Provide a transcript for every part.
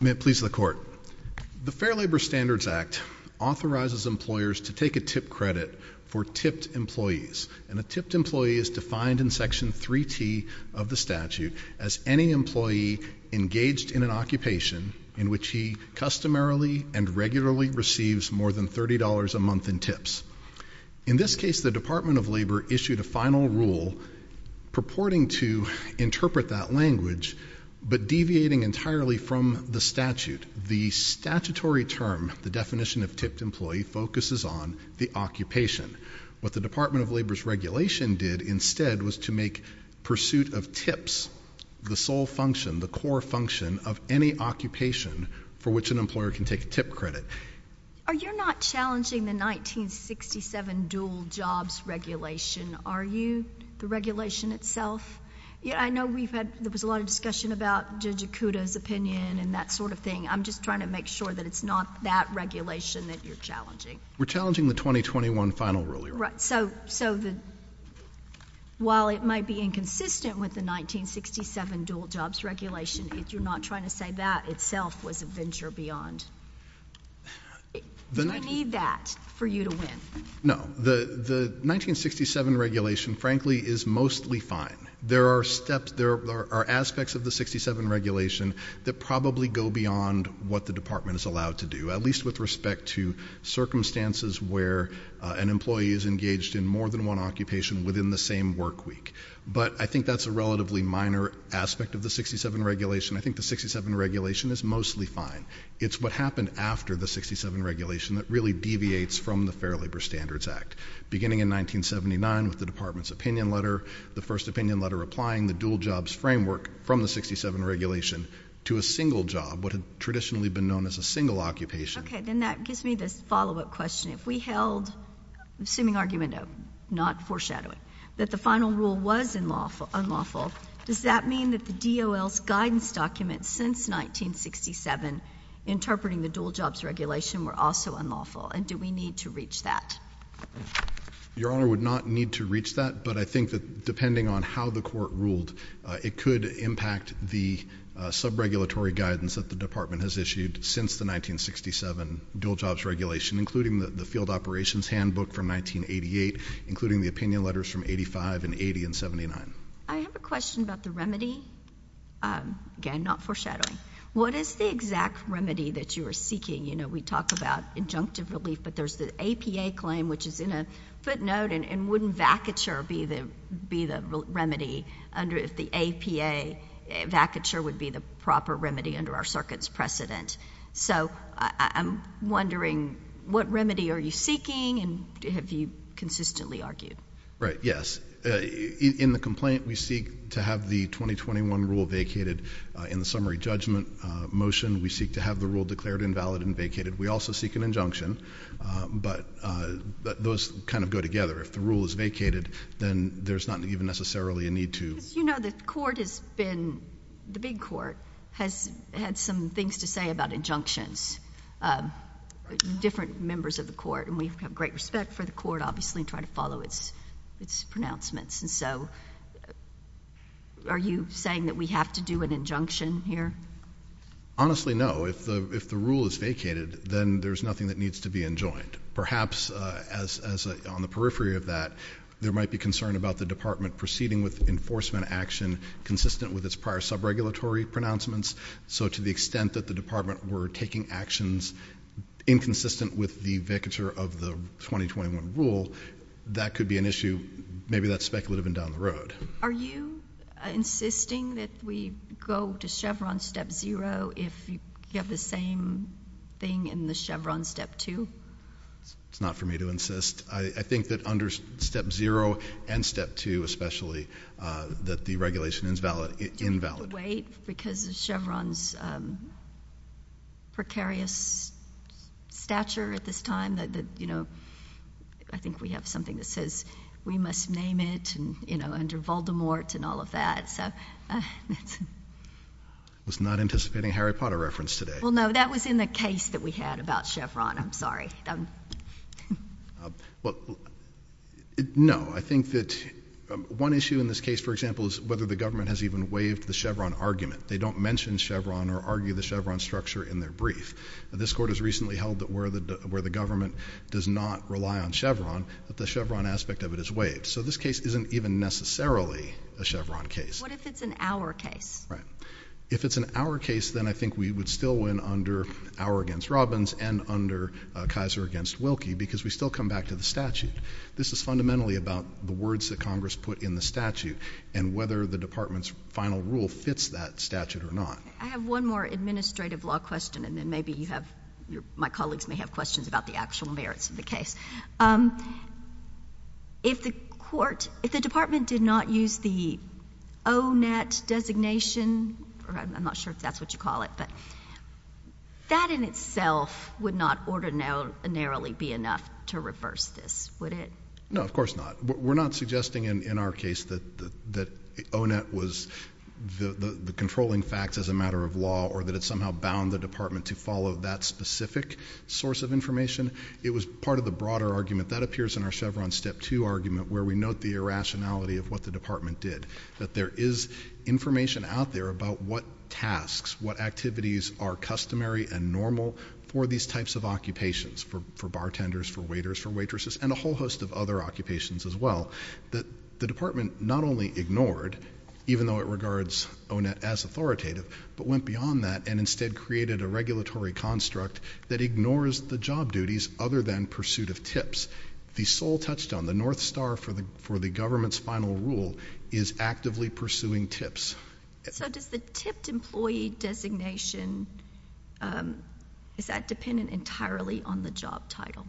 May it please the court. The Fair Labor Standards Act authorizes employers to take a tip credit for tipped employees. A tipped employee is defined in Section 3T of the statute as any employee engaged in an occupation in which he customarily and regularly receives more than $30 a month in tips. In this case, the Department of Labor issued a final rule purporting to interpret that language but deviating entirely from the statute. The statutory term, the definition of tipped employee, focuses on the occupation. What the Department of Labor's regulation did instead was to make pursuit of tips the sole function, the core function of any occupation for which an employer can take a tip credit. Are you not challenging the 1967 dual jobs regulation? Are you? The regulation itself? Yeah, I know we've had, there was a lot of discussion about Judge Acuda's opinion and that sort of thing. I'm just trying to make sure that it's not that regulation that you're challenging. We're challenging the 2021 final rule, you're right. So while it might be inconsistent with the 1967 dual jobs regulation, if you're not trying to say that itself was a venture beyond, do you need that for you to win? No. The 1967 regulation, frankly, is mostly fine. There are steps, there are aspects of the 67 regulation that probably go beyond what the department is allowed to do, at least with respect to circumstances where an employee is engaged in more than one occupation within the same work week. But I think that's a relatively minor aspect of the 67 regulation. I think the 67 regulation is mostly fine. It's what happened after the 67 regulation that really deviates from the Fair Labor Standards Act. Beginning in 1979 with the department's opinion letter, the first opinion letter applying the dual jobs framework from the 67 regulation to a single job, what had traditionally been known as a single occupation. Okay. Then that gives me this follow-up question. If we held, assuming argument of not foreshadowing, that the final rule was unlawful, does that mean that the DOL's guidance documents since 1967 interpreting the dual jobs regulation were also unlawful? And do we need to reach that? Your Honor, we would not need to reach that. But I think that depending on how the court ruled, it could impact the sub-regulatory guidance that the department has issued since the 1967 dual jobs regulation, including the field operations handbook from 1988, including the opinion letters from 85 and 80 and 79. I have a question about the remedy, again, not foreshadowing. What is the exact remedy that you are seeking? You know, we talk about injunctive relief, but there's the APA claim, which is in a footnote, and wouldn't vacature be the remedy if the APA vacature would be the proper remedy under our circuit's precedent? So I'm wondering, what remedy are you seeking, and have you consistently argued? Right. Yes. In the complaint, we seek to have the 2021 rule vacated in the summary judgment motion. We seek to have the rule declared invalid and vacated. We also seek an injunction. But those kind of go together. If the rule is vacated, then there's not even necessarily a need to. You know, the court has been, the big court, has had some things to say about injunctions. Different members of the court, and we have great respect for the court, obviously, and try to follow its pronouncements. And so, are you saying that we have to do an injunction here? Honestly, no. If the rule is vacated, then there's nothing that needs to be enjoined. Perhaps on the periphery of that, there might be concern about the department proceeding with enforcement action consistent with its prior sub-regulatory pronouncements. So to the extent that the department were taking actions inconsistent with the vacature of the 2021 rule, that could be an issue, maybe that's speculative and down the road. Are you insisting that we go to Chevron step zero if you have the same thing in the Chevron step two? It's not for me to insist. I think that under step zero and step two, especially, that the regulation is invalid. Do we have to wait because of Chevron's precarious stature at this time? I think we have something that says we must name it under Voldemort and all of that. I was not anticipating a Harry Potter reference today. Well, no. That was in the case that we had about Chevron. I'm sorry. No. I think that one issue in this case, for example, is whether the government has even waived the Chevron argument. They don't mention Chevron or argue the Chevron structure in their brief. This court has recently held that where the government does not rely on Chevron, that the Chevron aspect of it is waived. This case isn't even necessarily a Chevron case. What if it's an Auer case? If it's an Auer case, then I think we would still win under Auer against Robbins and under Kaiser against Wilkie because we still come back to the statute. This is fundamentally about the words that Congress put in the statute and whether the department's final rule fits that statute or not. I have one more administrative law question, and then maybe you have... my colleagues may have questions about the actual merits of the case. If the court... if the department did not use the O-net designation, or I'm not sure if that's what you call it, but that in itself would not ordinarily be enough to reverse this, would it? No, of course not. We're not suggesting in our case that O-net was the controlling facts as a matter of law or that it somehow bound the department to follow that specific source of information. It was part of the broader argument that appears in our Chevron Step 2 argument where we note the irrationality of what the department did, that there is information out there about what tasks, what activities are customary and normal for these types of occupations, for bartenders, for waiters, for waitresses, and a whole host of other occupations as well. The department not only ignored, even though it regards O-net as authoritative, but went beyond that and instead created a regulatory construct that ignores the job duties other than pursuit of tips. The sole touchdown, the north star for the government's final rule is actively pursuing tips. So does the tipped employee designation, is that dependent entirely on the job title?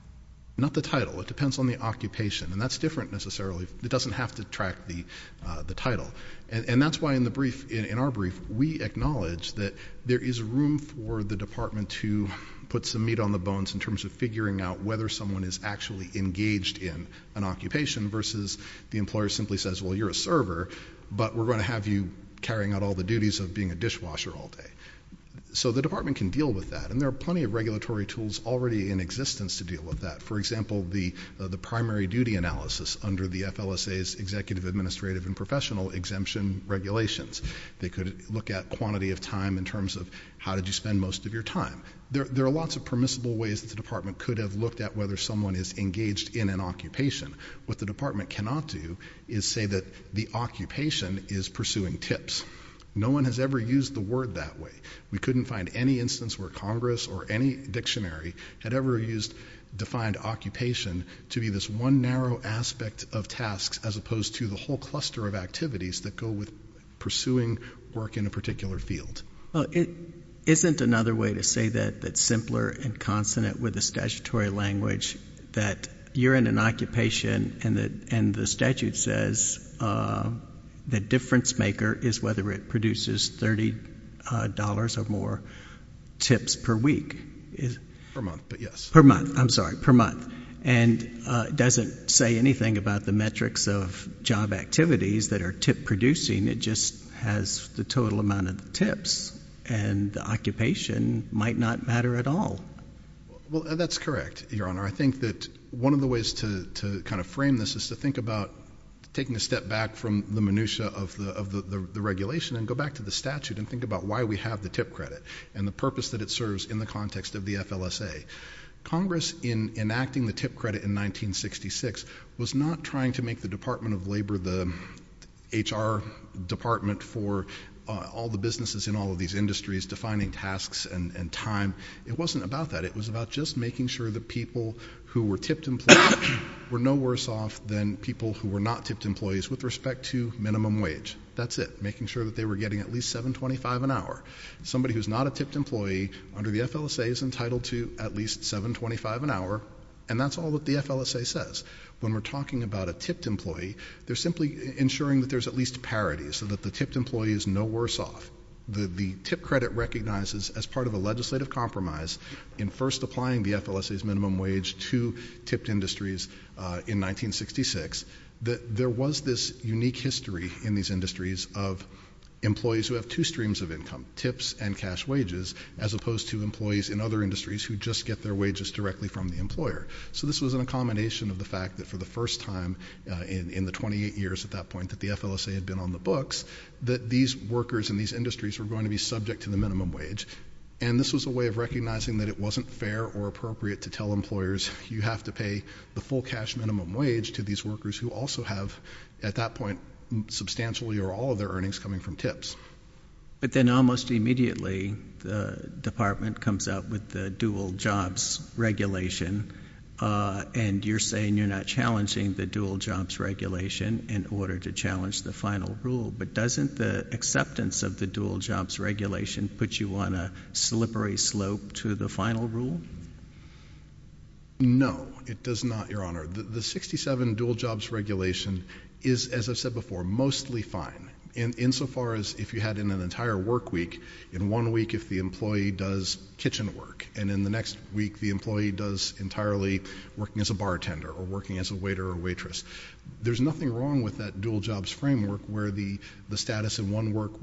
Not the title. It depends on the occupation. And that's different necessarily. It doesn't have to track the title. And that's why in the brief, in our brief, we acknowledge that there is room for the department to put some meat on the bones in terms of figuring out whether someone is actually engaged in an occupation versus the employer simply says, well, you're a server, but we're going to have you carrying out all the duties of being a dishwasher all day. So the department can deal with that, and there are plenty of regulatory tools already in existence to deal with that. For example, the primary duty analysis under the FLSA's executive, administrative, and professional exemption regulations. They could look at quantity of time in terms of how did you spend most of your time. There are lots of permissible ways that the department could have looked at whether someone is engaged in an occupation. What the department cannot do is say that the occupation is pursuing tips. No one has ever used the word that way. We couldn't find any instance where Congress or any dictionary had ever used defined occupation to be this one narrow aspect of tasks as opposed to the whole cluster of activities that go with pursuing work in a particular field. It isn't another way to say that that's simpler and consonant with the statutory language that you're in an occupation, and the statute says the difference maker is whether it produces $30 or more tips per week, per month, I'm sorry, per month, and it doesn't say anything about the metrics of job activities that are tip producing. It just has the total amount of tips, and the occupation might not matter at all. Well, that's correct, Your Honor. I think that one of the ways to kind of frame this is to think about taking a step back from the minutia of the regulation and go back to the statute and think about why we have the tip credit and the purpose that it serves in the context of the FLSA. Congress in enacting the tip credit in 1966 was not trying to make the Department of Labor the HR department for all the businesses in all of these industries defining tasks and time. It wasn't about that. It was about just making sure that people who were tipped employees were no worse off than people who were not tipped employees with respect to minimum wage. That's it. Making sure that they were getting at least $7.25 an hour. Somebody who's not a tipped employee under the FLSA is entitled to at least $7.25 an hour, and that's all that the FLSA says. When we're talking about a tipped employee, they're simply ensuring that there's at least parity so that the tipped employee is no worse off. The tip credit recognizes as part of a legislative compromise in first applying the FLSA's minimum wage to tipped industries in 1966 that there was this unique history in these industries of employees who have two streams of income, tips and cash wages, as opposed to employees in other industries who just get their wages directly from the employer. So this was a combination of the fact that for the first time in the 28 years at that time, in 1966, that these workers in these industries were going to be subject to the minimum wage. And this was a way of recognizing that it wasn't fair or appropriate to tell employers you have to pay the full cash minimum wage to these workers who also have at that point substantially or all of their earnings coming from tips. But then almost immediately, the department comes up with the dual jobs regulation, and you're saying you're not challenging the dual jobs regulation in order to challenge the final rule, but doesn't the acceptance of the dual jobs regulation put you on a slippery slope to the final rule? No, it does not, Your Honor. The 67 dual jobs regulation is, as I've said before, mostly fine, insofar as if you had in an entire work week, in one week if the employee does kitchen work, and in the next week the employee does entirely working as a bartender or working as a waiter or waitress. There's nothing wrong with that dual jobs framework where the status in one work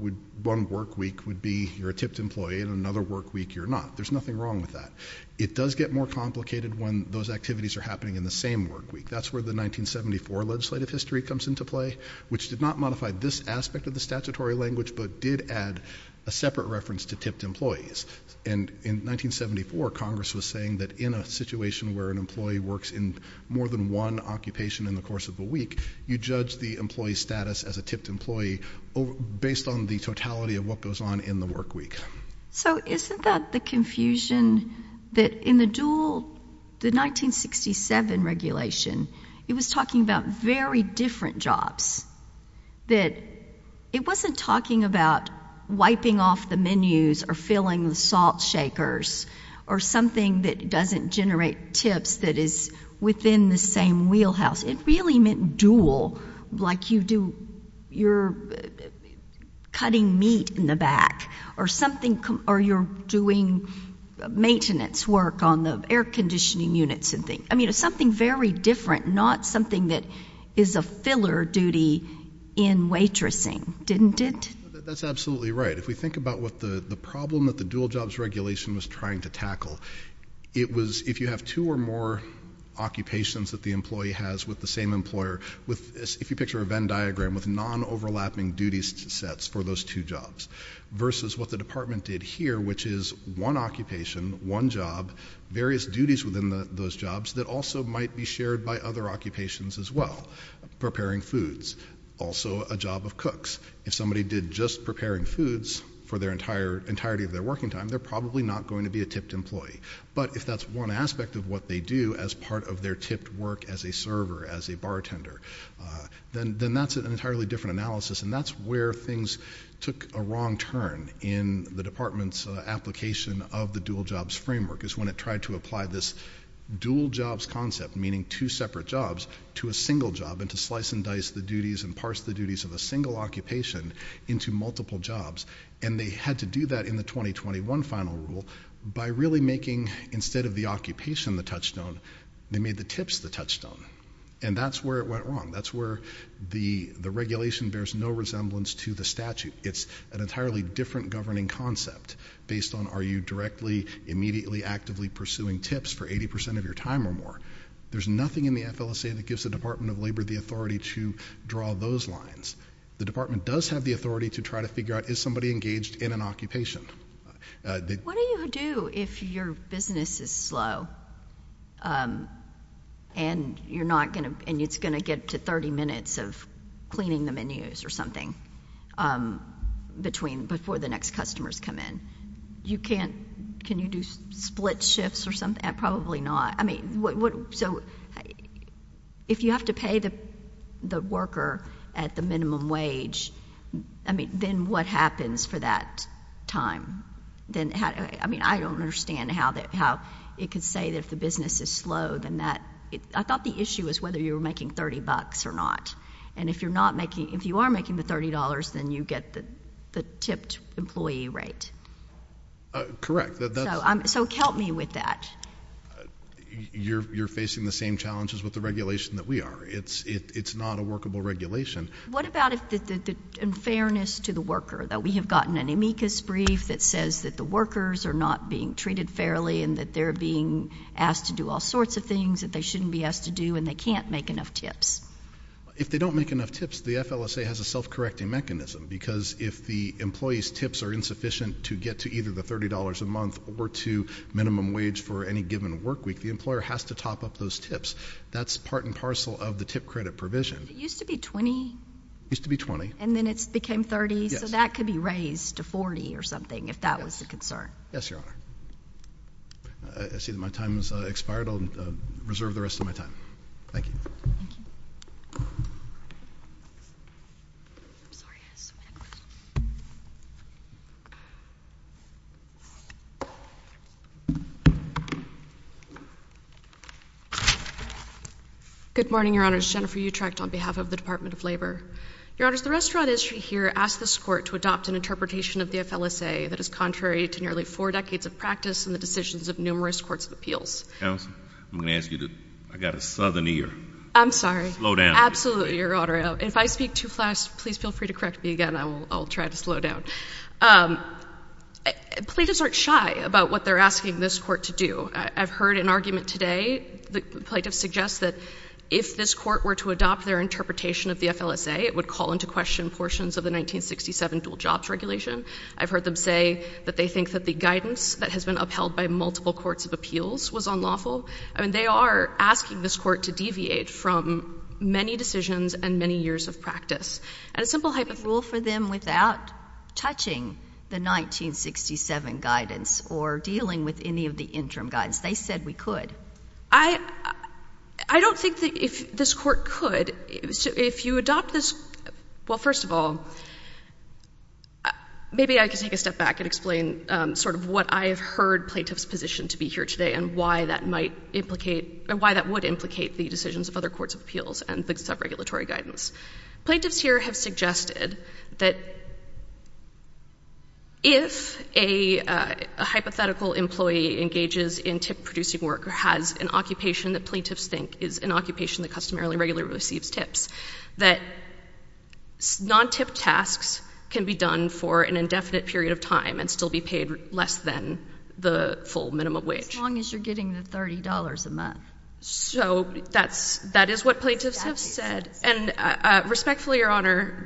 week would be you're a tipped employee, and in another work week you're not. There's nothing wrong with that. It does get more complicated when those activities are happening in the same work week. That's where the 1974 legislative history comes into play, which did not modify this aspect of the statutory language, but did add a separate reference to tipped employees. And in 1974, Congress was saying that in a situation where an employee works in more than one occupation in the course of a week, you judge the employee's status as a tipped employee based on the totality of what goes on in the work week. So isn't that the confusion that in the 1967 regulation, it was talking about very different jobs, that it wasn't talking about wiping off the menus or filling the salt shakers or something that doesn't generate tips that is within the same wheelhouse. It really meant dual, like you're cutting meat in the back or you're doing maintenance work on the air conditioning units and things. I mean, it's something very different, not something that is a filler duty in waitressing, didn't it? That's absolutely right. If we think about what the problem that the dual jobs regulation was trying to tackle, it was if you have two or more occupations that the employee has with the same employer, if you picture a Venn diagram with non-overlapping duties sets for those two jobs versus what the department did here, which is one occupation, one job, various duties within those jobs that also might be shared by other occupations as well, preparing foods, also a job of cooks. If somebody did just preparing foods for the entirety of their working time, they're probably not going to be a tipped employee. But if that's one aspect of what they do as part of their tipped work as a server, as a bartender, then that's an entirely different analysis and that's where things took a wrong turn in the department's application of the dual jobs framework is when it tried to apply this dual jobs concept, meaning two separate jobs, to a single job and to slice and dice the duties and parse the duties of a single occupation into multiple jobs. And they had to do that in the 2021 final rule by really making, instead of the occupation, the touchstone, they made the tips the touchstone. And that's where it went wrong. That's where the regulation bears no resemblance to the statute. It's an entirely different governing concept based on are you directly, immediately, actively pursuing tips for 80% of your time or more. There's nothing in the FLSA that gives the Department of Labor the authority to draw those lines. The department does have the authority to try to figure out, is somebody engaged in an occupation? What do you do if your business is slow and it's going to get to 30 minutes of cleaning the menus or something before the next customers come in? You can't, can you do split shifts or something? Probably not. So, if you have to pay the worker at the minimum wage, then what happens for that time? I don't understand how it could say that if the business is slow, then that, I thought the issue was whether you were making 30 bucks or not. And if you are making the $30, then you get the tipped employee rate. Correct. So, help me with that. You're facing the same challenges with the regulation that we are. It's not a workable regulation. What about the unfairness to the worker, that we have gotten an amicus brief that says that the workers are not being treated fairly and that they're being asked to do all sorts of things that they shouldn't be asked to do and they can't make enough tips? If they don't make enough tips, the FLSA has a self-correcting mechanism because if the or to minimum wage for any given work week, the employer has to top up those tips. That's part and parcel of the tip credit provision. It used to be $20? It used to be $20. And then it became $30? Yes. So, that could be raised to $40 or something, if that was the concern. Yes, Your Honor. I see that my time has expired. I'll reserve the rest of my time. Thank you. Thank you. I'm sorry. I have a question. Good morning, Your Honors. Jennifer Utrecht on behalf of the Department of Labor. Your Honors, the restaurant industry here asked this Court to adopt an interpretation of the FLSA that is contrary to nearly four decades of practice and the decisions of numerous courts of appeals. Counsel, I'm going to ask you to, I've got a southern ear. I'm sorry. Slow down. Absolutely, Your Honor. If I speak too fast, please feel free to correct me again. I'll try to slow down. Plaintiffs aren't shy about what they're asking this Court to do. I've heard an argument today. The plaintiffs suggest that if this Court were to adopt their interpretation of the FLSA, it would call into question portions of the 1967 dual jobs regulation. I've heard them say that they think that the guidance that has been upheld by multiple courts of appeals was unlawful. I mean, they are asking this Court to deviate from many decisions and many years of practice. And a simple hypothetical— Could we rule for them without touching the 1967 guidance or dealing with any of the interim guidance? They said we could. I don't think that if this Court could. If you adopt this—well, first of all, maybe I could take a step back and explain sort of what I have heard plaintiffs' position to be here today and why that might implicate—or why that would implicate the decisions of other courts of appeals and the sub-regulatory guidance. Plaintiffs here have suggested that if a hypothetical employee engages in tip-producing work or has an occupation that plaintiffs think is an occupation that customarily regularly receives tips, that non-tip tasks can be done for an indefinite period of time and still be paid less than the full minimum wage. As long as you're getting the $30 a month. So that is what plaintiffs have said. And respectfully, Your Honor,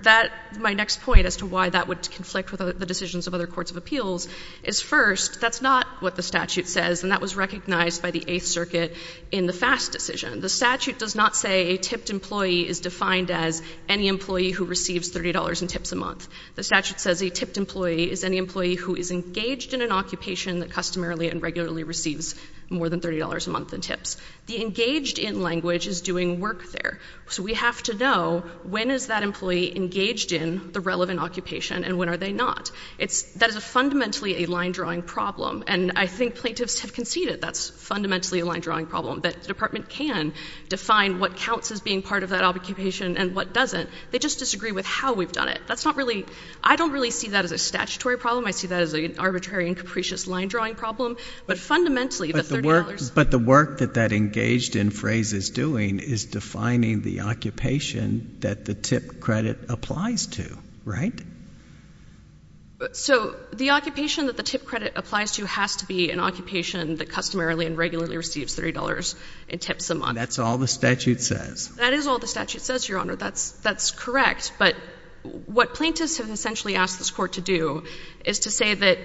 my next point as to why that would conflict with the decisions of other courts of appeals is, first, that's not what the statute says, and that was recognized by the Eighth Circuit in the FAST decision. The statute does not say a tipped employee is defined as any employee who receives $30 in tips a month. The statute says a tipped employee is any employee who is engaged in an occupation that customarily and regularly receives more than $30 a month in tips. The engaged in language is doing work there, so we have to know when is that employee engaged in the relevant occupation and when are they not. That is fundamentally a line-drawing problem, and I think plaintiffs have conceded that's fundamentally a line-drawing problem, that the Department can define what counts as being part of that occupation and what doesn't. They just disagree with how we've done it. I don't really see that as a statutory problem. I see that as an arbitrary and capricious line-drawing problem. But fundamentally, the $30— But the work that that engaged in phrase is doing is defining the occupation that the tipped credit applies to, right? So the occupation that the tipped credit applies to has to be an occupation that customarily and regularly receives $30 in tips a month. That's all the statute says. That is all the statute says, Your Honor. That's correct, but what plaintiffs have essentially asked this Court to do is to say that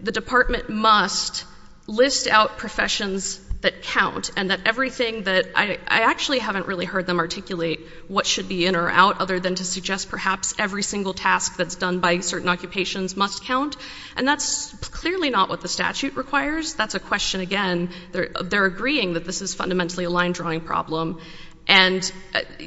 the Department must list out professions that count and that everything that—I actually haven't really heard them articulate what should be in or out, other than to suggest perhaps every single task that's done by certain occupations must count, and that's clearly not what the statute requires. That's a question, again—they're agreeing that this is fundamentally a line-drawing problem, and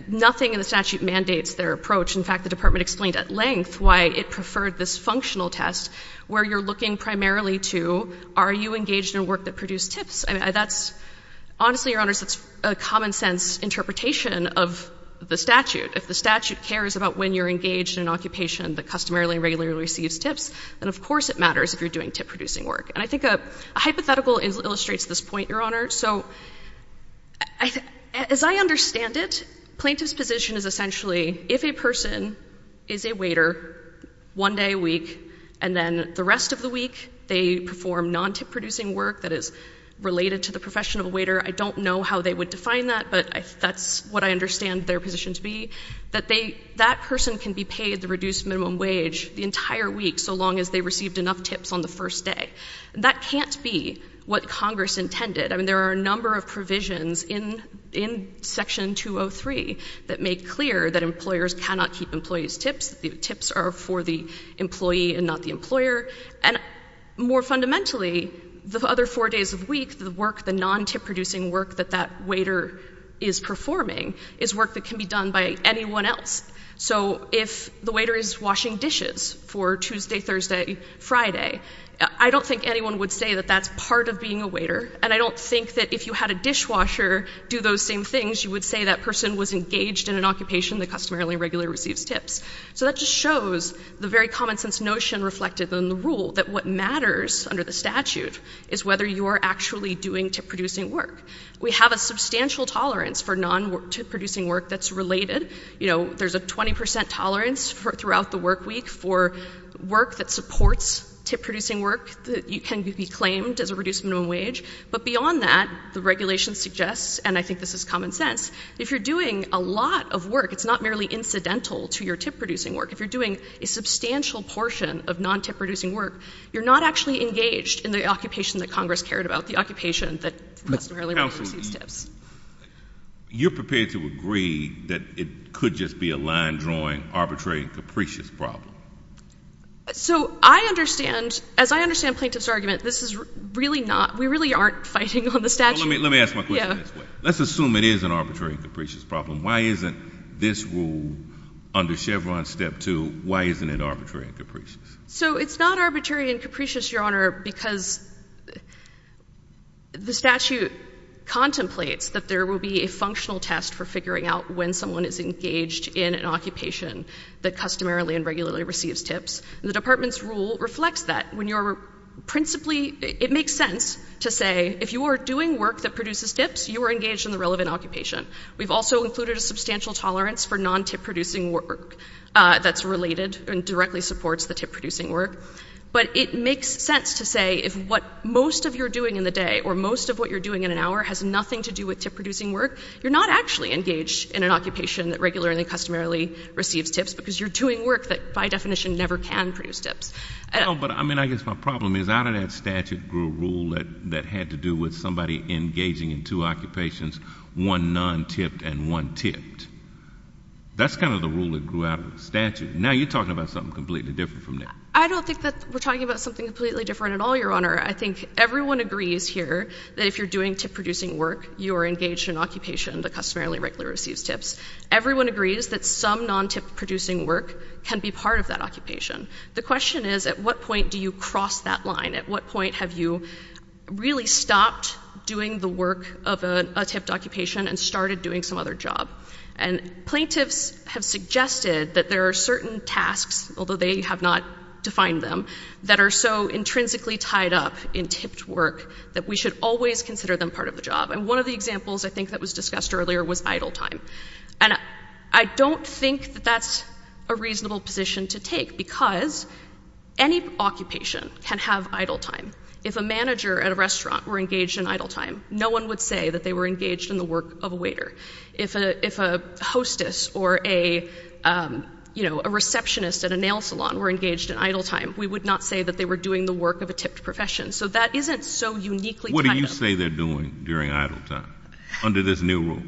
nothing in the statute mandates their approach. In fact, the Department explained at length why it preferred this functional test, where you're looking primarily to, are you engaged in work that produced tips? I mean, that's—honestly, Your Honors, that's a common-sense interpretation of the statute. If the statute cares about when you're engaged in an occupation that customarily and regularly receives tips, then of course it matters if you're doing tip-producing work. And I think a hypothetical illustrates this point, Your Honor. So, as I understand it, plaintiff's position is essentially, if a person is a waiter one day a week and then the rest of the week they perform non-tip-producing work that is related to the profession of a waiter—I don't know how they would define that, but that's what I understand their position to be—that they—that person can be paid the reduced minimum wage the entire week, so long as they received enough tips on the first day. That can't be what Congress intended. I mean, there are a number of provisions in Section 203 that make clear that employers cannot keep employees' tips, that the tips are for the employee and not the employer. And more fundamentally, the other four days of the week, the work, the non-tip-producing work that that waiter is performing is work that can be done by anyone else. So if the waiter is washing dishes for Tuesday, Thursday, Friday, I don't think anyone would say that that's part of being a waiter, and I don't think that if you had a dishwasher do those same things, you would say that person was engaged in an occupation that customarily and regularly receives tips. So that just shows the very common-sense notion reflected in the rule that what matters under the statute is whether you are actually doing tip-producing work. We have a substantial tolerance for non-tip-producing work that's related. You know, there's a 20 percent tolerance throughout the work week for work that supports tip-producing work that can be claimed as a reduced minimum wage, but beyond that, the regulation suggests, and I think this is common sense, if you're doing a lot of work, it's not merely incidental to your tip-producing work. If you're doing a substantial portion of non-tip-producing work, you're not actually engaged in the occupation that Congress cared about, the occupation that customarily receives tips. You're prepared to agree that it could just be a line-drawing, arbitrary, capricious problem? So I understand, as I understand Plaintiff's argument, this is really not, we really aren't fighting on the statute. Let me ask my question this way. Yeah. Let's assume it is an arbitrary and capricious problem. Why isn't this rule under Chevron Step 2, why isn't it arbitrary and capricious? So it's not arbitrary and capricious, Your Honor, because the statute contemplates that there will be a functional test for figuring out when someone is engaged in an occupation that customarily and regularly receives tips, and the department's rule reflects that. When you're principally, it makes sense to say, if you are doing work that produces tips, you are engaged in the relevant occupation. We've also included a substantial tolerance for non-tip-producing work that's related and directly supports the tip-producing work. But it makes sense to say, if what most of your doing in the day or most of what you're doing in an hour has nothing to do with tip-producing work, you're not actually engaged in an occupation that regularly and customarily receives tips because you're doing work that, by definition, never can produce tips. No, but I mean, I guess my problem is out of that statute grew a rule that had to do with somebody engaging in two occupations, one non-tipped and one tipped. That's kind of the rule that grew out of the statute. Now you're talking about something completely different from that. I don't think that we're talking about something completely different at all, Your Honor. I think everyone agrees here that if you're doing tip-producing work, you are engaged in an occupation that customarily and regularly receives tips. Everyone agrees that some non-tip-producing work can be part of that occupation. The question is, at what point do you cross that line? At what point have you really stopped doing the work of a tipped occupation and started doing some other job? And plaintiffs have suggested that there are certain tasks, although they have not defined them, that are so intrinsically tied up in tipped work that we should always consider them part of the job. And one of the examples, I think, that was discussed earlier was idle time. And I don't think that that's a reasonable position to take because any occupation can have idle time. If a manager at a restaurant were engaged in idle time, no one would say that they were engaged in the work of a waiter. If a hostess or a, you know, a receptionist at a nail salon were engaged in idle time, we would not say that they were doing the work of a tipped profession. So that isn't so uniquely tied up. What do you say they're doing during idle time under this new rule?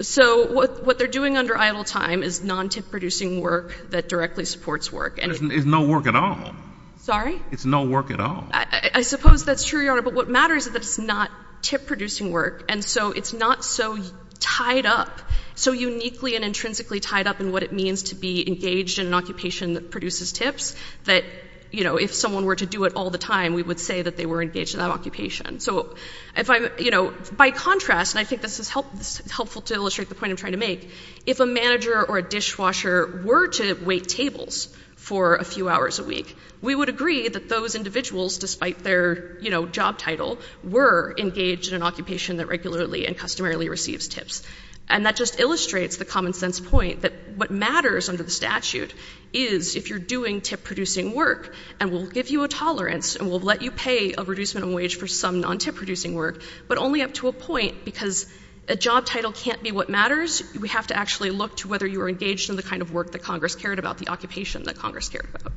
So what they're doing under idle time is non-tip producing work that directly supports work. It's no work at all. Sorry? It's no work at all. I suppose that's true, Your Honor, but what matters is that it's not tip producing work. And so it's not so tied up, so uniquely and intrinsically tied up in what it means to be engaged in an occupation that produces tips that, you know, if someone were to do it all the time, we would say that they were engaged in that occupation. So if I'm, you know, by contrast, and I think this is helpful to illustrate the point I'm trying to make, if a manager or a dishwasher were to wait tables for a few hours a week, we would agree that those individuals, despite their, you know, job title, were engaged in an occupation that regularly and customarily receives tips. And that just illustrates the common sense point that what matters under the statute is if you're doing tip producing work and we'll give you a tolerance and we'll let you pay a minimum wage for some non-tip producing work, but only up to a point because a job title can't be what matters. We have to actually look to whether you are engaged in the kind of work that Congress cared about, the occupation that Congress cared about.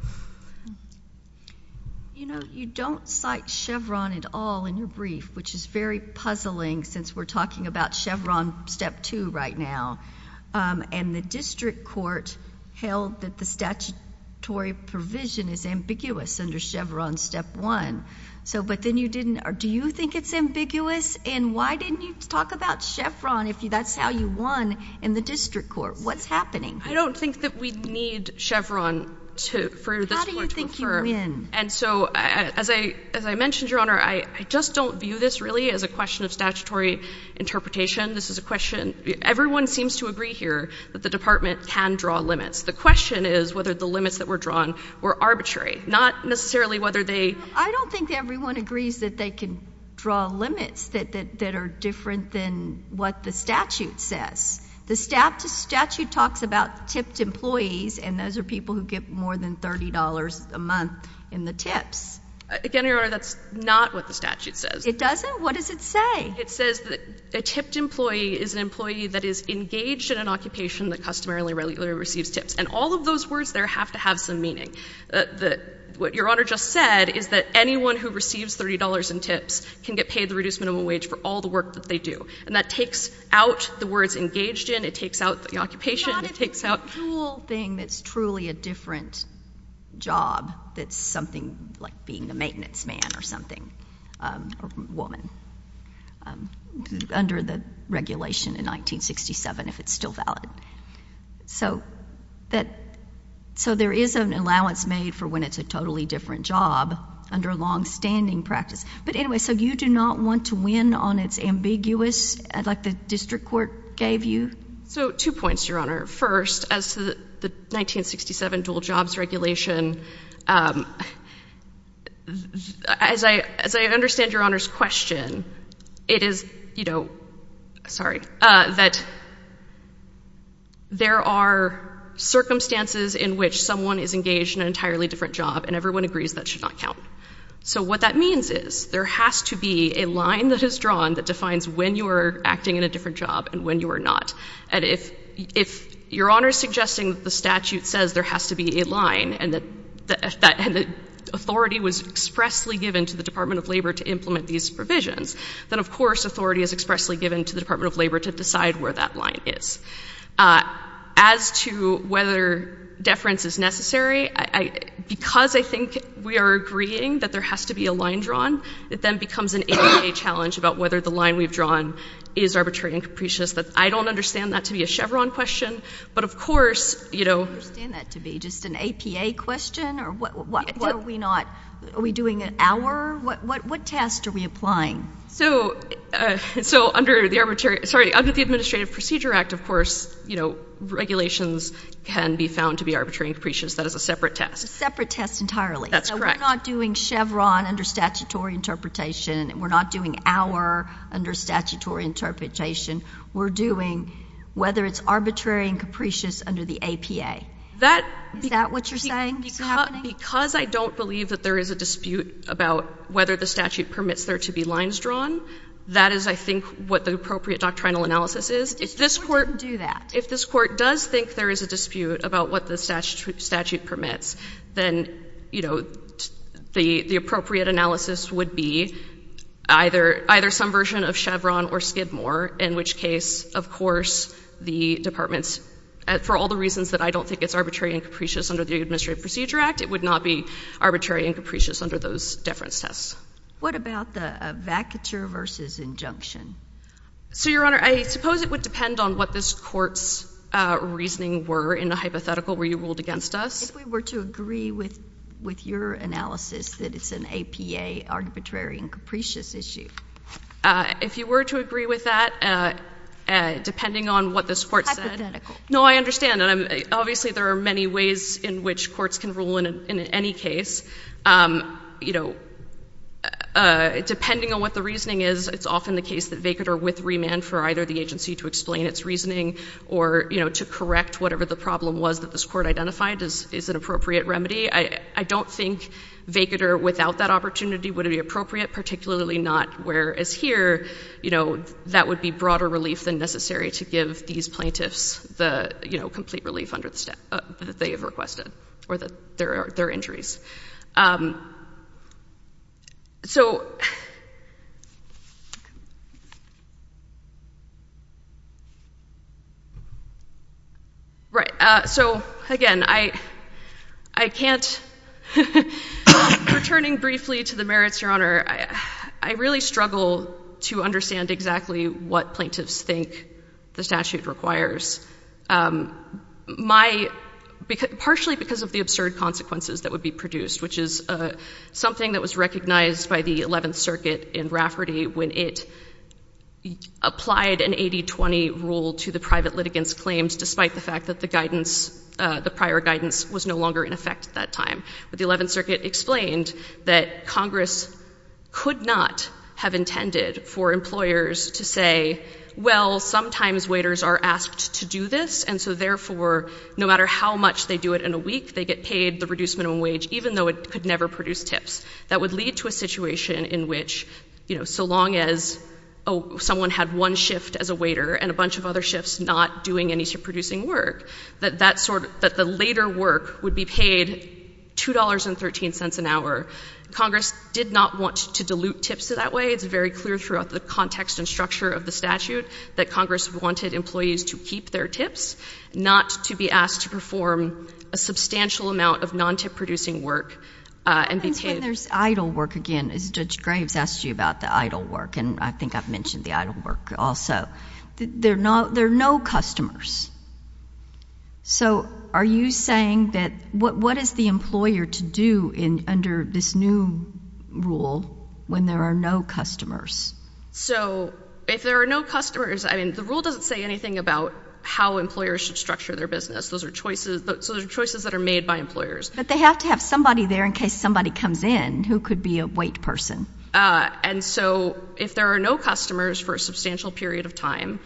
You know, you don't cite Chevron at all in your brief, which is very puzzling since we're talking about Chevron Step 2 right now. And the district court held that the statutory provision is ambiguous under Chevron Step 1. So, but then you didn't, or do you think it's ambiguous? And why didn't you talk about Chevron if that's how you won in the district court? What's happening? I don't think that we need Chevron to, for this court to affirm. How do you think you win? And so, as I, as I mentioned, Your Honor, I just don't view this really as a question of statutory interpretation. This is a question, everyone seems to agree here that the department can draw limits. The question is whether the limits that were drawn were arbitrary, not necessarily whether they. I don't think everyone agrees that they can draw limits that are different than what the statute says. The statute talks about tipped employees and those are people who get more than $30 a month in the tips. Again, Your Honor, that's not what the statute says. It doesn't? What does it say? It says that a tipped employee is an employee that is engaged in an occupation that customarily receives tips. And all of those words there have to have some meaning. The, the, what Your Honor just said is that anyone who receives $30 in tips can get paid the reduced minimum wage for all the work that they do. And that takes out the words engaged in, it takes out the occupation, it takes out It's not a single thing that's truly a different job that's something like being a maintenance man or something, or woman, under the regulation in 1967, if it's still valid. So, that, so there is an allowance made for when it's a totally different job under long-standing practice. But anyway, so you do not want to win on its ambiguous, like the district court gave you? So two points, Your Honor. First, as to the 1967 dual jobs regulation, as I, as I understand Your Honor's question, it is, you know, sorry, that there are circumstances in which someone is engaged in an entirely different job and everyone agrees that should not count. So what that means is, there has to be a line that is drawn that defines when you are acting in a different job and when you are not. And if, if Your Honor is suggesting that the statute says there has to be a line, and that, that, and that authority was expressly given to the Department of Labor to implement these provisions, then of course, authority is expressly given to the Department of Labor to decide where that line is. As to whether deference is necessary, I, I, because I think we are agreeing that there has to be a line drawn, it then becomes an APA challenge about whether the line we've drawn is arbitrary and capricious, that I don't understand that to be a Chevron question, but of course, you know. I don't understand that to be just an APA question or what, what, what are we not, are we doing an hour, what, what, what test are we applying? So, so under the arbitrary, sorry, under the Administrative Procedure Act, of course, you know, regulations can be found to be arbitrary and capricious, that is a separate test. Separate test entirely. That's correct. So we're not doing Chevron under statutory interpretation, we're not doing hour under the APA. That. Is that what you're saying? It's happening? Because, because I don't believe that there is a dispute about whether the statute permits there to be lines drawn, that is, I think, what the appropriate doctrinal analysis is. If this Court. If this Court doesn't do that. If this Court does think there is a dispute about what the statute permits, then, you know, the, the appropriate analysis would be either, either some version of Chevron or Skidmore, in which case, of course, the Department's, for all the reasons that I don't think it's arbitrary and capricious under the Administrative Procedure Act, it would not be arbitrary and capricious under those deference tests. What about the vacature versus injunction? So Your Honor, I suppose it would depend on what this Court's reasoning were in the hypothetical where you ruled against us. If we were to agree with, with your analysis that it's an APA arbitrary and capricious issue. If you were to agree with that, depending on what this Court said. Hypothetical. No, I understand. And I'm, obviously, there are many ways in which courts can rule in, in any case. You know, depending on what the reasoning is, it's often the case that vacater with remand for either the agency to explain its reasoning or, you know, to correct whatever the problem was that this Court identified is, is an appropriate remedy. I don't think vacater without that opportunity would it be appropriate, particularly not where as here, you know, that would be broader relief than necessary to give these plaintiffs the, you know, complete relief under the step that they have requested or their, their injuries. So right. So again, I, I can't, returning briefly to the merits, Your Honor. I really struggle to understand exactly what plaintiffs think the statute requires. My, partially because of the absurd consequences that would be produced, which is something that was recognized by the Eleventh Circuit in Rafferty when it applied an 80-20 rule to the private litigants' claims, despite the fact that the guidance, the prior guidance was no longer in effect at that time. But the Eleventh Circuit explained that Congress could not have intended for employers to say, well, sometimes waiters are asked to do this, and so therefore, no matter how much they do it in a week, they get paid the reduced minimum wage, even though it could never produce tips. That would lead to a situation in which, you know, so long as someone had one shift as a waiter and a bunch of other shifts not doing any producing work, that that sort of, that the later work would be paid $2.13 an hour. Congress did not want to dilute tips that way. It's very clear throughout the context and structure of the statute that Congress wanted employees to keep their tips, not to be asked to perform a substantial amount of non-tip producing work and be paid... What happens when there's idle work, again, as Judge Graves asked you about the idle work, and I think I've mentioned the idle work also? There are no, there are no customers. So, are you saying that, what is the employer to do in, under this new rule when there are no customers? So, if there are no customers, I mean, the rule doesn't say anything about how employers should structure their business. Those are choices, those are choices that are made by employers. But they have to have somebody there in case somebody comes in who could be a wait person. And so, if there are no customers for a substantial period of time,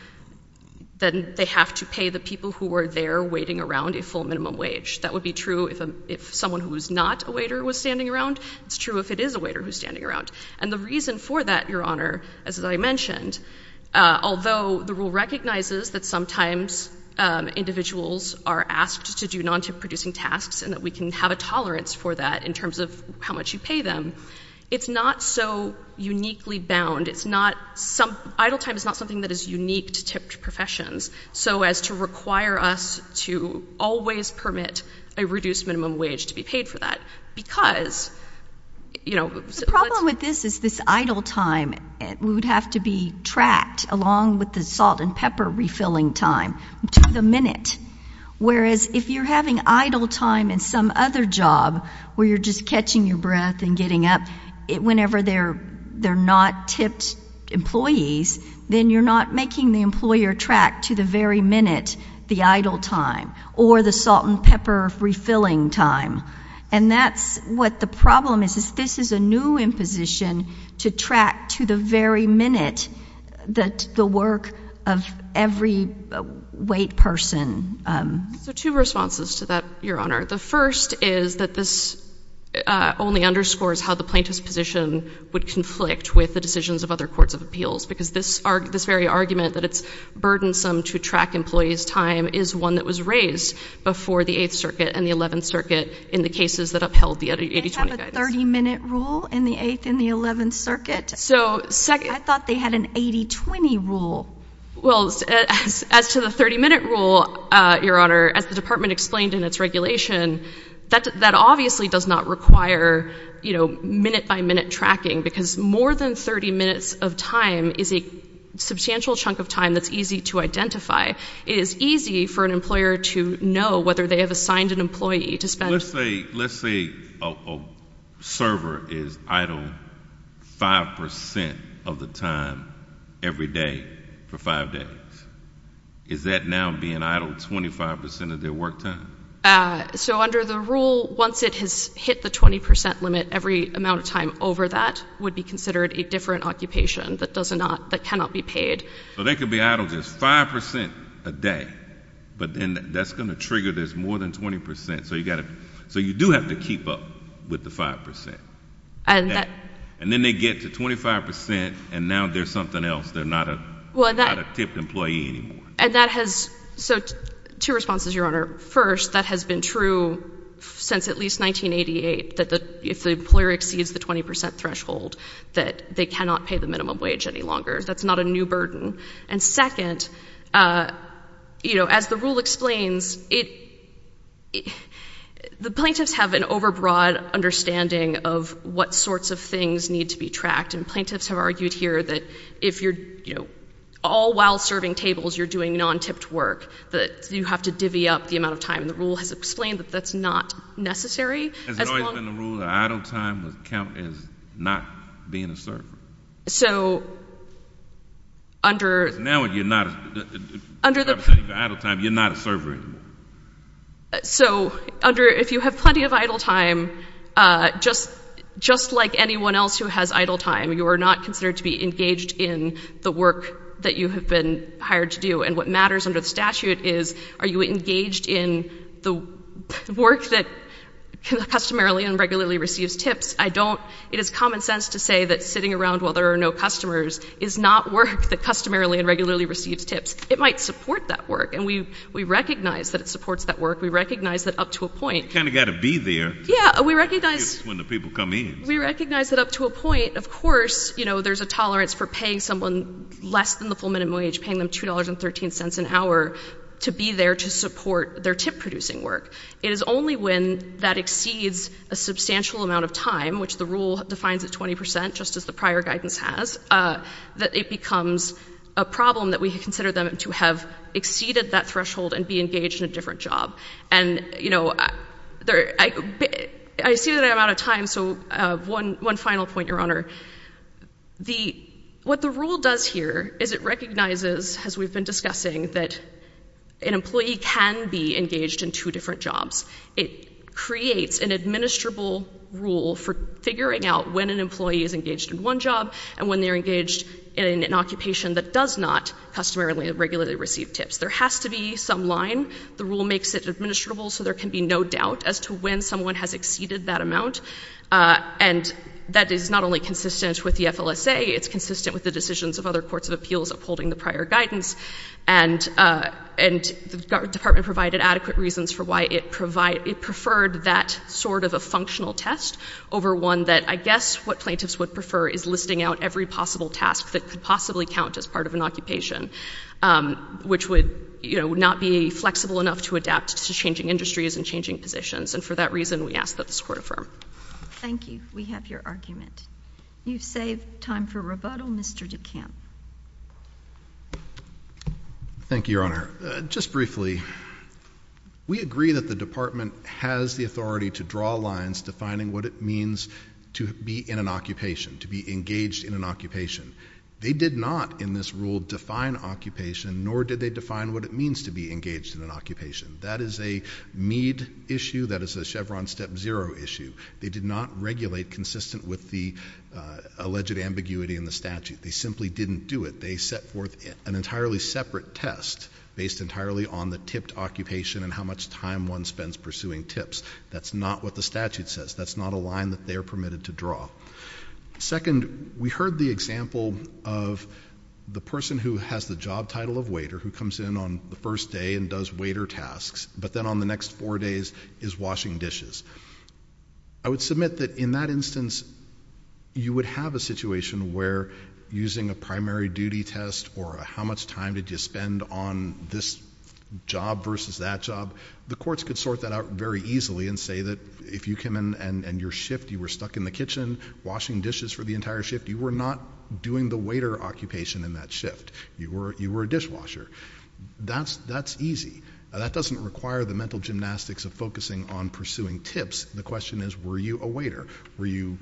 then they have to pay the people who are there waiting around a full minimum wage. That would be true if someone who is not a waiter was standing around. It's true if it is a waiter who is standing around. And the reason for that, Your Honor, as I mentioned, although the rule recognizes that sometimes individuals are asked to do non-tip producing tasks and that we can have a tolerance for that in terms of how much you pay them, it's not so uniquely bound. It's not some, idle time is not something that is unique to tipped professions. So as to require us to always permit a reduced minimum wage to be paid for that. Because, you know, The problem with this is this idle time would have to be tracked along with the salt and pepper refilling time to the minute. Whereas, if you're having idle time in some other job where you're just catching your breath and getting up, whenever they're not tipped employees, then you're not making the employer track to the very minute the idle time. Or the salt and pepper refilling time. And that's what the problem is, is this is a new imposition to track to the very minute that the work of every wait person. So two responses to that, Your Honor. The first is that this only underscores how the plaintiff's position would conflict with the decisions of other courts of appeals. Because this very argument that it's burdensome to track employees' time is one that was raised before the 8th Circuit and the 11th Circuit in the cases that upheld the 80-20 guidance. They have a 30 minute rule in the 8th and the 11th Circuit. So, second- I thought they had an 80-20 rule. Well, as to the 30 minute rule, Your Honor, as the department explained in its regulation, that obviously does not require minute by minute tracking. Because more than 30 minutes of time is a substantial chunk of time that's easy to identify. It is easy for an employer to know whether they have assigned an employee to spend- Let's say, let's say a server is idle 5% of the time every day for 5 days. Is that now being idle 25% of their work time? So under the rule, once it has hit the 20% limit, every amount of time over that would be considered a different occupation that does not, that cannot be paid. So they could be idle just 5% a day, but then that's going to trigger this more than 20%. So you've got to, so you do have to keep up with the 5%. And then they get to 25% and now they're something else. They're not a tipped employee anymore. And that has, so two responses, Your Honor. First, that has been true since at least 1988 that if the employer exceeds the 20% threshold that they cannot pay the minimum wage any longer. That's not a new burden. And second, you know, as the rule explains, it, the plaintiffs have an overbroad understanding of what sorts of things need to be tracked. And plaintiffs have argued here that if you're, you know, all while serving tables, you're doing non-tipped work, that you have to divvy up the amount of time. And the rule has explained that that's not necessary as long- Has it always been the rule that idle time is not being a server? So, under- Now you're not, if you have plenty of idle time, you're not a server anymore. So, under, if you have plenty of idle time, just like anyone else who has idle time, you are not considered to be engaged in the work that you have been hired to do. And what matters under the statute is, are you engaged in the work that customarily and regularly receives tips? I don't, it is common sense to say that sitting around while there are no customers is not work that customarily and regularly receives tips. It might support that work. And we, we recognize that it supports that work. We recognize that up to a point- You kind of got to be there- Yeah. We recognize- When the people come in. We recognize that up to a point, of course, you know, there's a tolerance for paying someone less than the full minimum wage, paying them $2.13 an hour to be there to support their tip-producing work. It is only when that exceeds a substantial amount of time, which the rule defines at 20%, just as the prior guidance has, that it becomes a problem that we consider them to have exceeded that threshold and be engaged in a different job. And you know, I see that I'm out of time, so one final point, Your Honor. What the rule does here is it recognizes, as we've been discussing, that an employee can be engaged in two different jobs. It creates an administrable rule for figuring out when an employee is engaged in one job and when they're engaged in an occupation that does not customarily and regularly receive tips. There has to be some line. The rule makes it administrable, so there can be no doubt as to when someone has exceeded that amount. And that is not only consistent with the FLSA, it's consistent with the decisions of other courts of appeals upholding the prior guidance. And the Department provided adequate reasons for why it preferred that sort of a functional test over one that I guess what plaintiffs would prefer is listing out every possible task that could possibly count as part of an occupation, which would, you know, not be flexible enough to adapt to changing industries and changing positions. And for that reason, we ask that this Court affirm. Thank you. We have your argument. You've saved time for rebuttal. Mr. DeCamp. Thank you, Your Honor. Just briefly, we agree that the Department has the authority to draw lines defining what it means to be in an occupation, to be engaged in an occupation. They did not in this rule define occupation, nor did they define what it means to be engaged in an occupation. That is a Meade issue. That is a Chevron step zero issue. They did not regulate consistent with the alleged ambiguity in the statute. They simply didn't do it. They set forth an entirely separate test based entirely on the tipped occupation and how much time one spends pursuing tips. That's not what the statute says. That's not a line that they are permitted to draw. Second, we heard the example of the person who has the job title of waiter who comes in on the first day and does waiter tasks, but then on the next four days is washing dishes. I would submit that in that instance, you would have a situation where using a primary duty test or a how much time did you spend on this job versus that job, the courts could sort that out very easily and say that if you came in and your shift, you were stuck in the kitchen washing dishes for the entire shift, you were not doing the waiter occupation in that shift. You were a dishwasher. That's easy. That doesn't require the mental gymnastics of focusing on pursuing tips. The question is, were you a waiter? Were you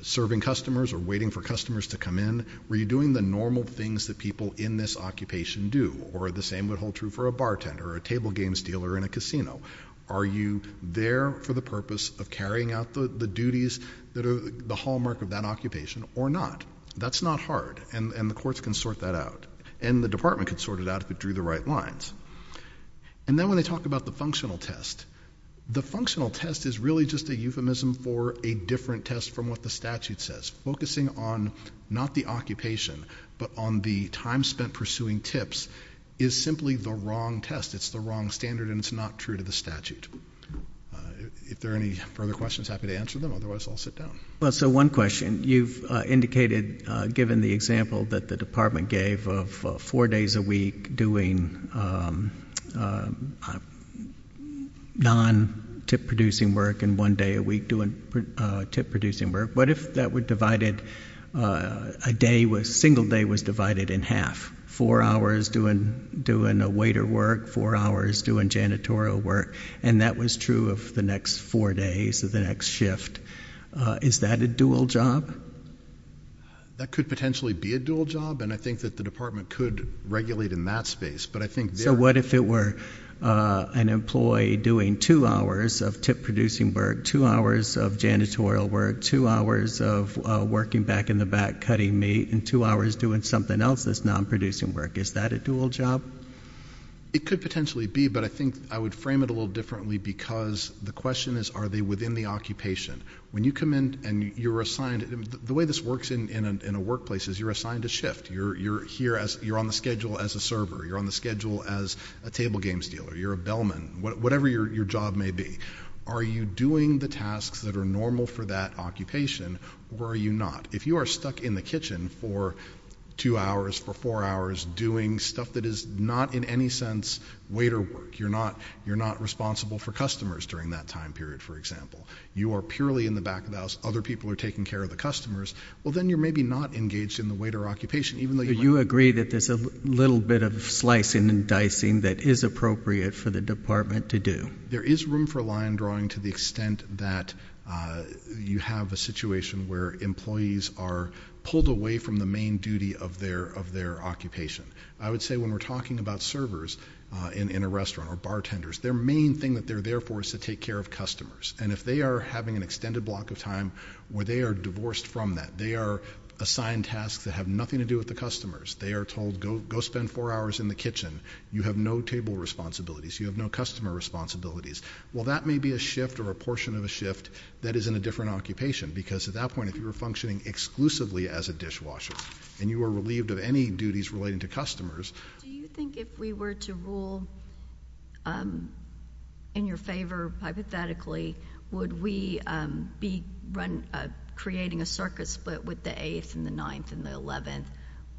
serving customers or waiting for customers to come in? Were you doing the normal things that people in this occupation do or the same would hold true for a bartender or a table games dealer in a casino? Are you there for the purpose of carrying out the duties that are the hallmark of that occupation or not? That's not hard and the courts can sort that out and the department can sort it out if they drew the right lines. And then when they talk about the functional test, the functional test is really just a euphemism for a different test from what the statute says. Focusing on not the occupation, but on the time spent pursuing tips is simply the wrong test. It's the wrong standard and it's not true to the statute. If there are any further questions, happy to answer them, otherwise I'll sit down. So one question, you've indicated given the example that the department gave of four days a week doing non-tip producing work and one day a week doing tip producing work, what if that were divided, a single day was divided in half? Four hours doing a waiter work, four hours doing janitorial work, and that was true of the next four days or the next shift. Is that a dual job? That could potentially be a dual job and I think that the department could regulate in that space. So what if it were an employee doing two hours of tip producing work, two hours of janitorial work, two hours of working back in the back cutting meat, and two hours doing something else that's non-producing work, is that a dual job? It could potentially be, but I think I would frame it a little differently because the question is are they within the occupation. When you come in and you're assigned, the way this works in a workplace is you're assigned a shift, you're on the schedule as a server, you're on the schedule as a table games dealer, you're a bellman, whatever your job may be. Are you doing the tasks that are normal for that occupation or are you not? If you are stuck in the kitchen for two hours, for four hours doing stuff that is not in any sense waiter work, you're not responsible for customers during that time period, for purely in the back of the house, other people are taking care of the customers, well then you're maybe not engaged in the waiter occupation even though you- You agree that there's a little bit of slicing and dicing that is appropriate for the department to do. There is room for line drawing to the extent that you have a situation where employees are pulled away from the main duty of their occupation. I would say when we're talking about servers in a restaurant or bartenders, their main thing that they're there for is to take care of customers. If they are having an extended block of time where they are divorced from that, they are assigned tasks that have nothing to do with the customers, they are told go spend four hours in the kitchen, you have no table responsibilities, you have no customer responsibilities, well that may be a shift or a portion of a shift that is in a different occupation because at that point if you were functioning exclusively as a dishwasher and you were relieved of any duties relating to customers- Would we be creating a circuit split with the 8th and the 9th and the 11th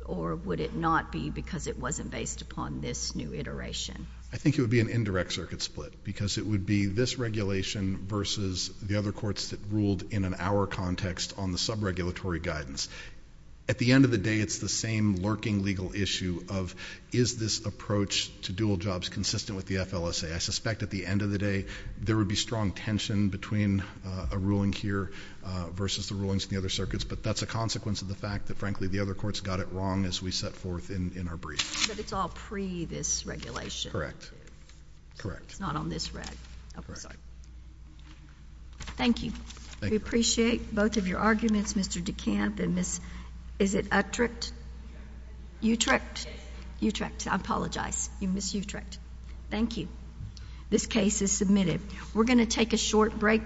or would it not be because it wasn't based upon this new iteration? I think it would be an indirect circuit split because it would be this regulation versus the other courts that ruled in an hour context on the sub-regulatory guidance. At the end of the day, it's the same lurking legal issue of is this approach to dual jobs consistent with the FLSA? I suspect at the end of the day there would be strong tension between a ruling here versus the rulings in the other circuits, but that's a consequence of the fact that frankly the other courts got it wrong as we set forth in our brief. But it's all pre this regulation? Correct. It's not on this reg? Correct. Oh, I'm sorry. Thank you. Thank you. We appreciate both of your arguments, Mr. DeCamp and Ms. is it Utrecht? Utrecht. Utrecht. Yes. Utrecht. I apologize. I apologize. You missed Utrecht. Thank you. This case is submitted. We're going to take a short break.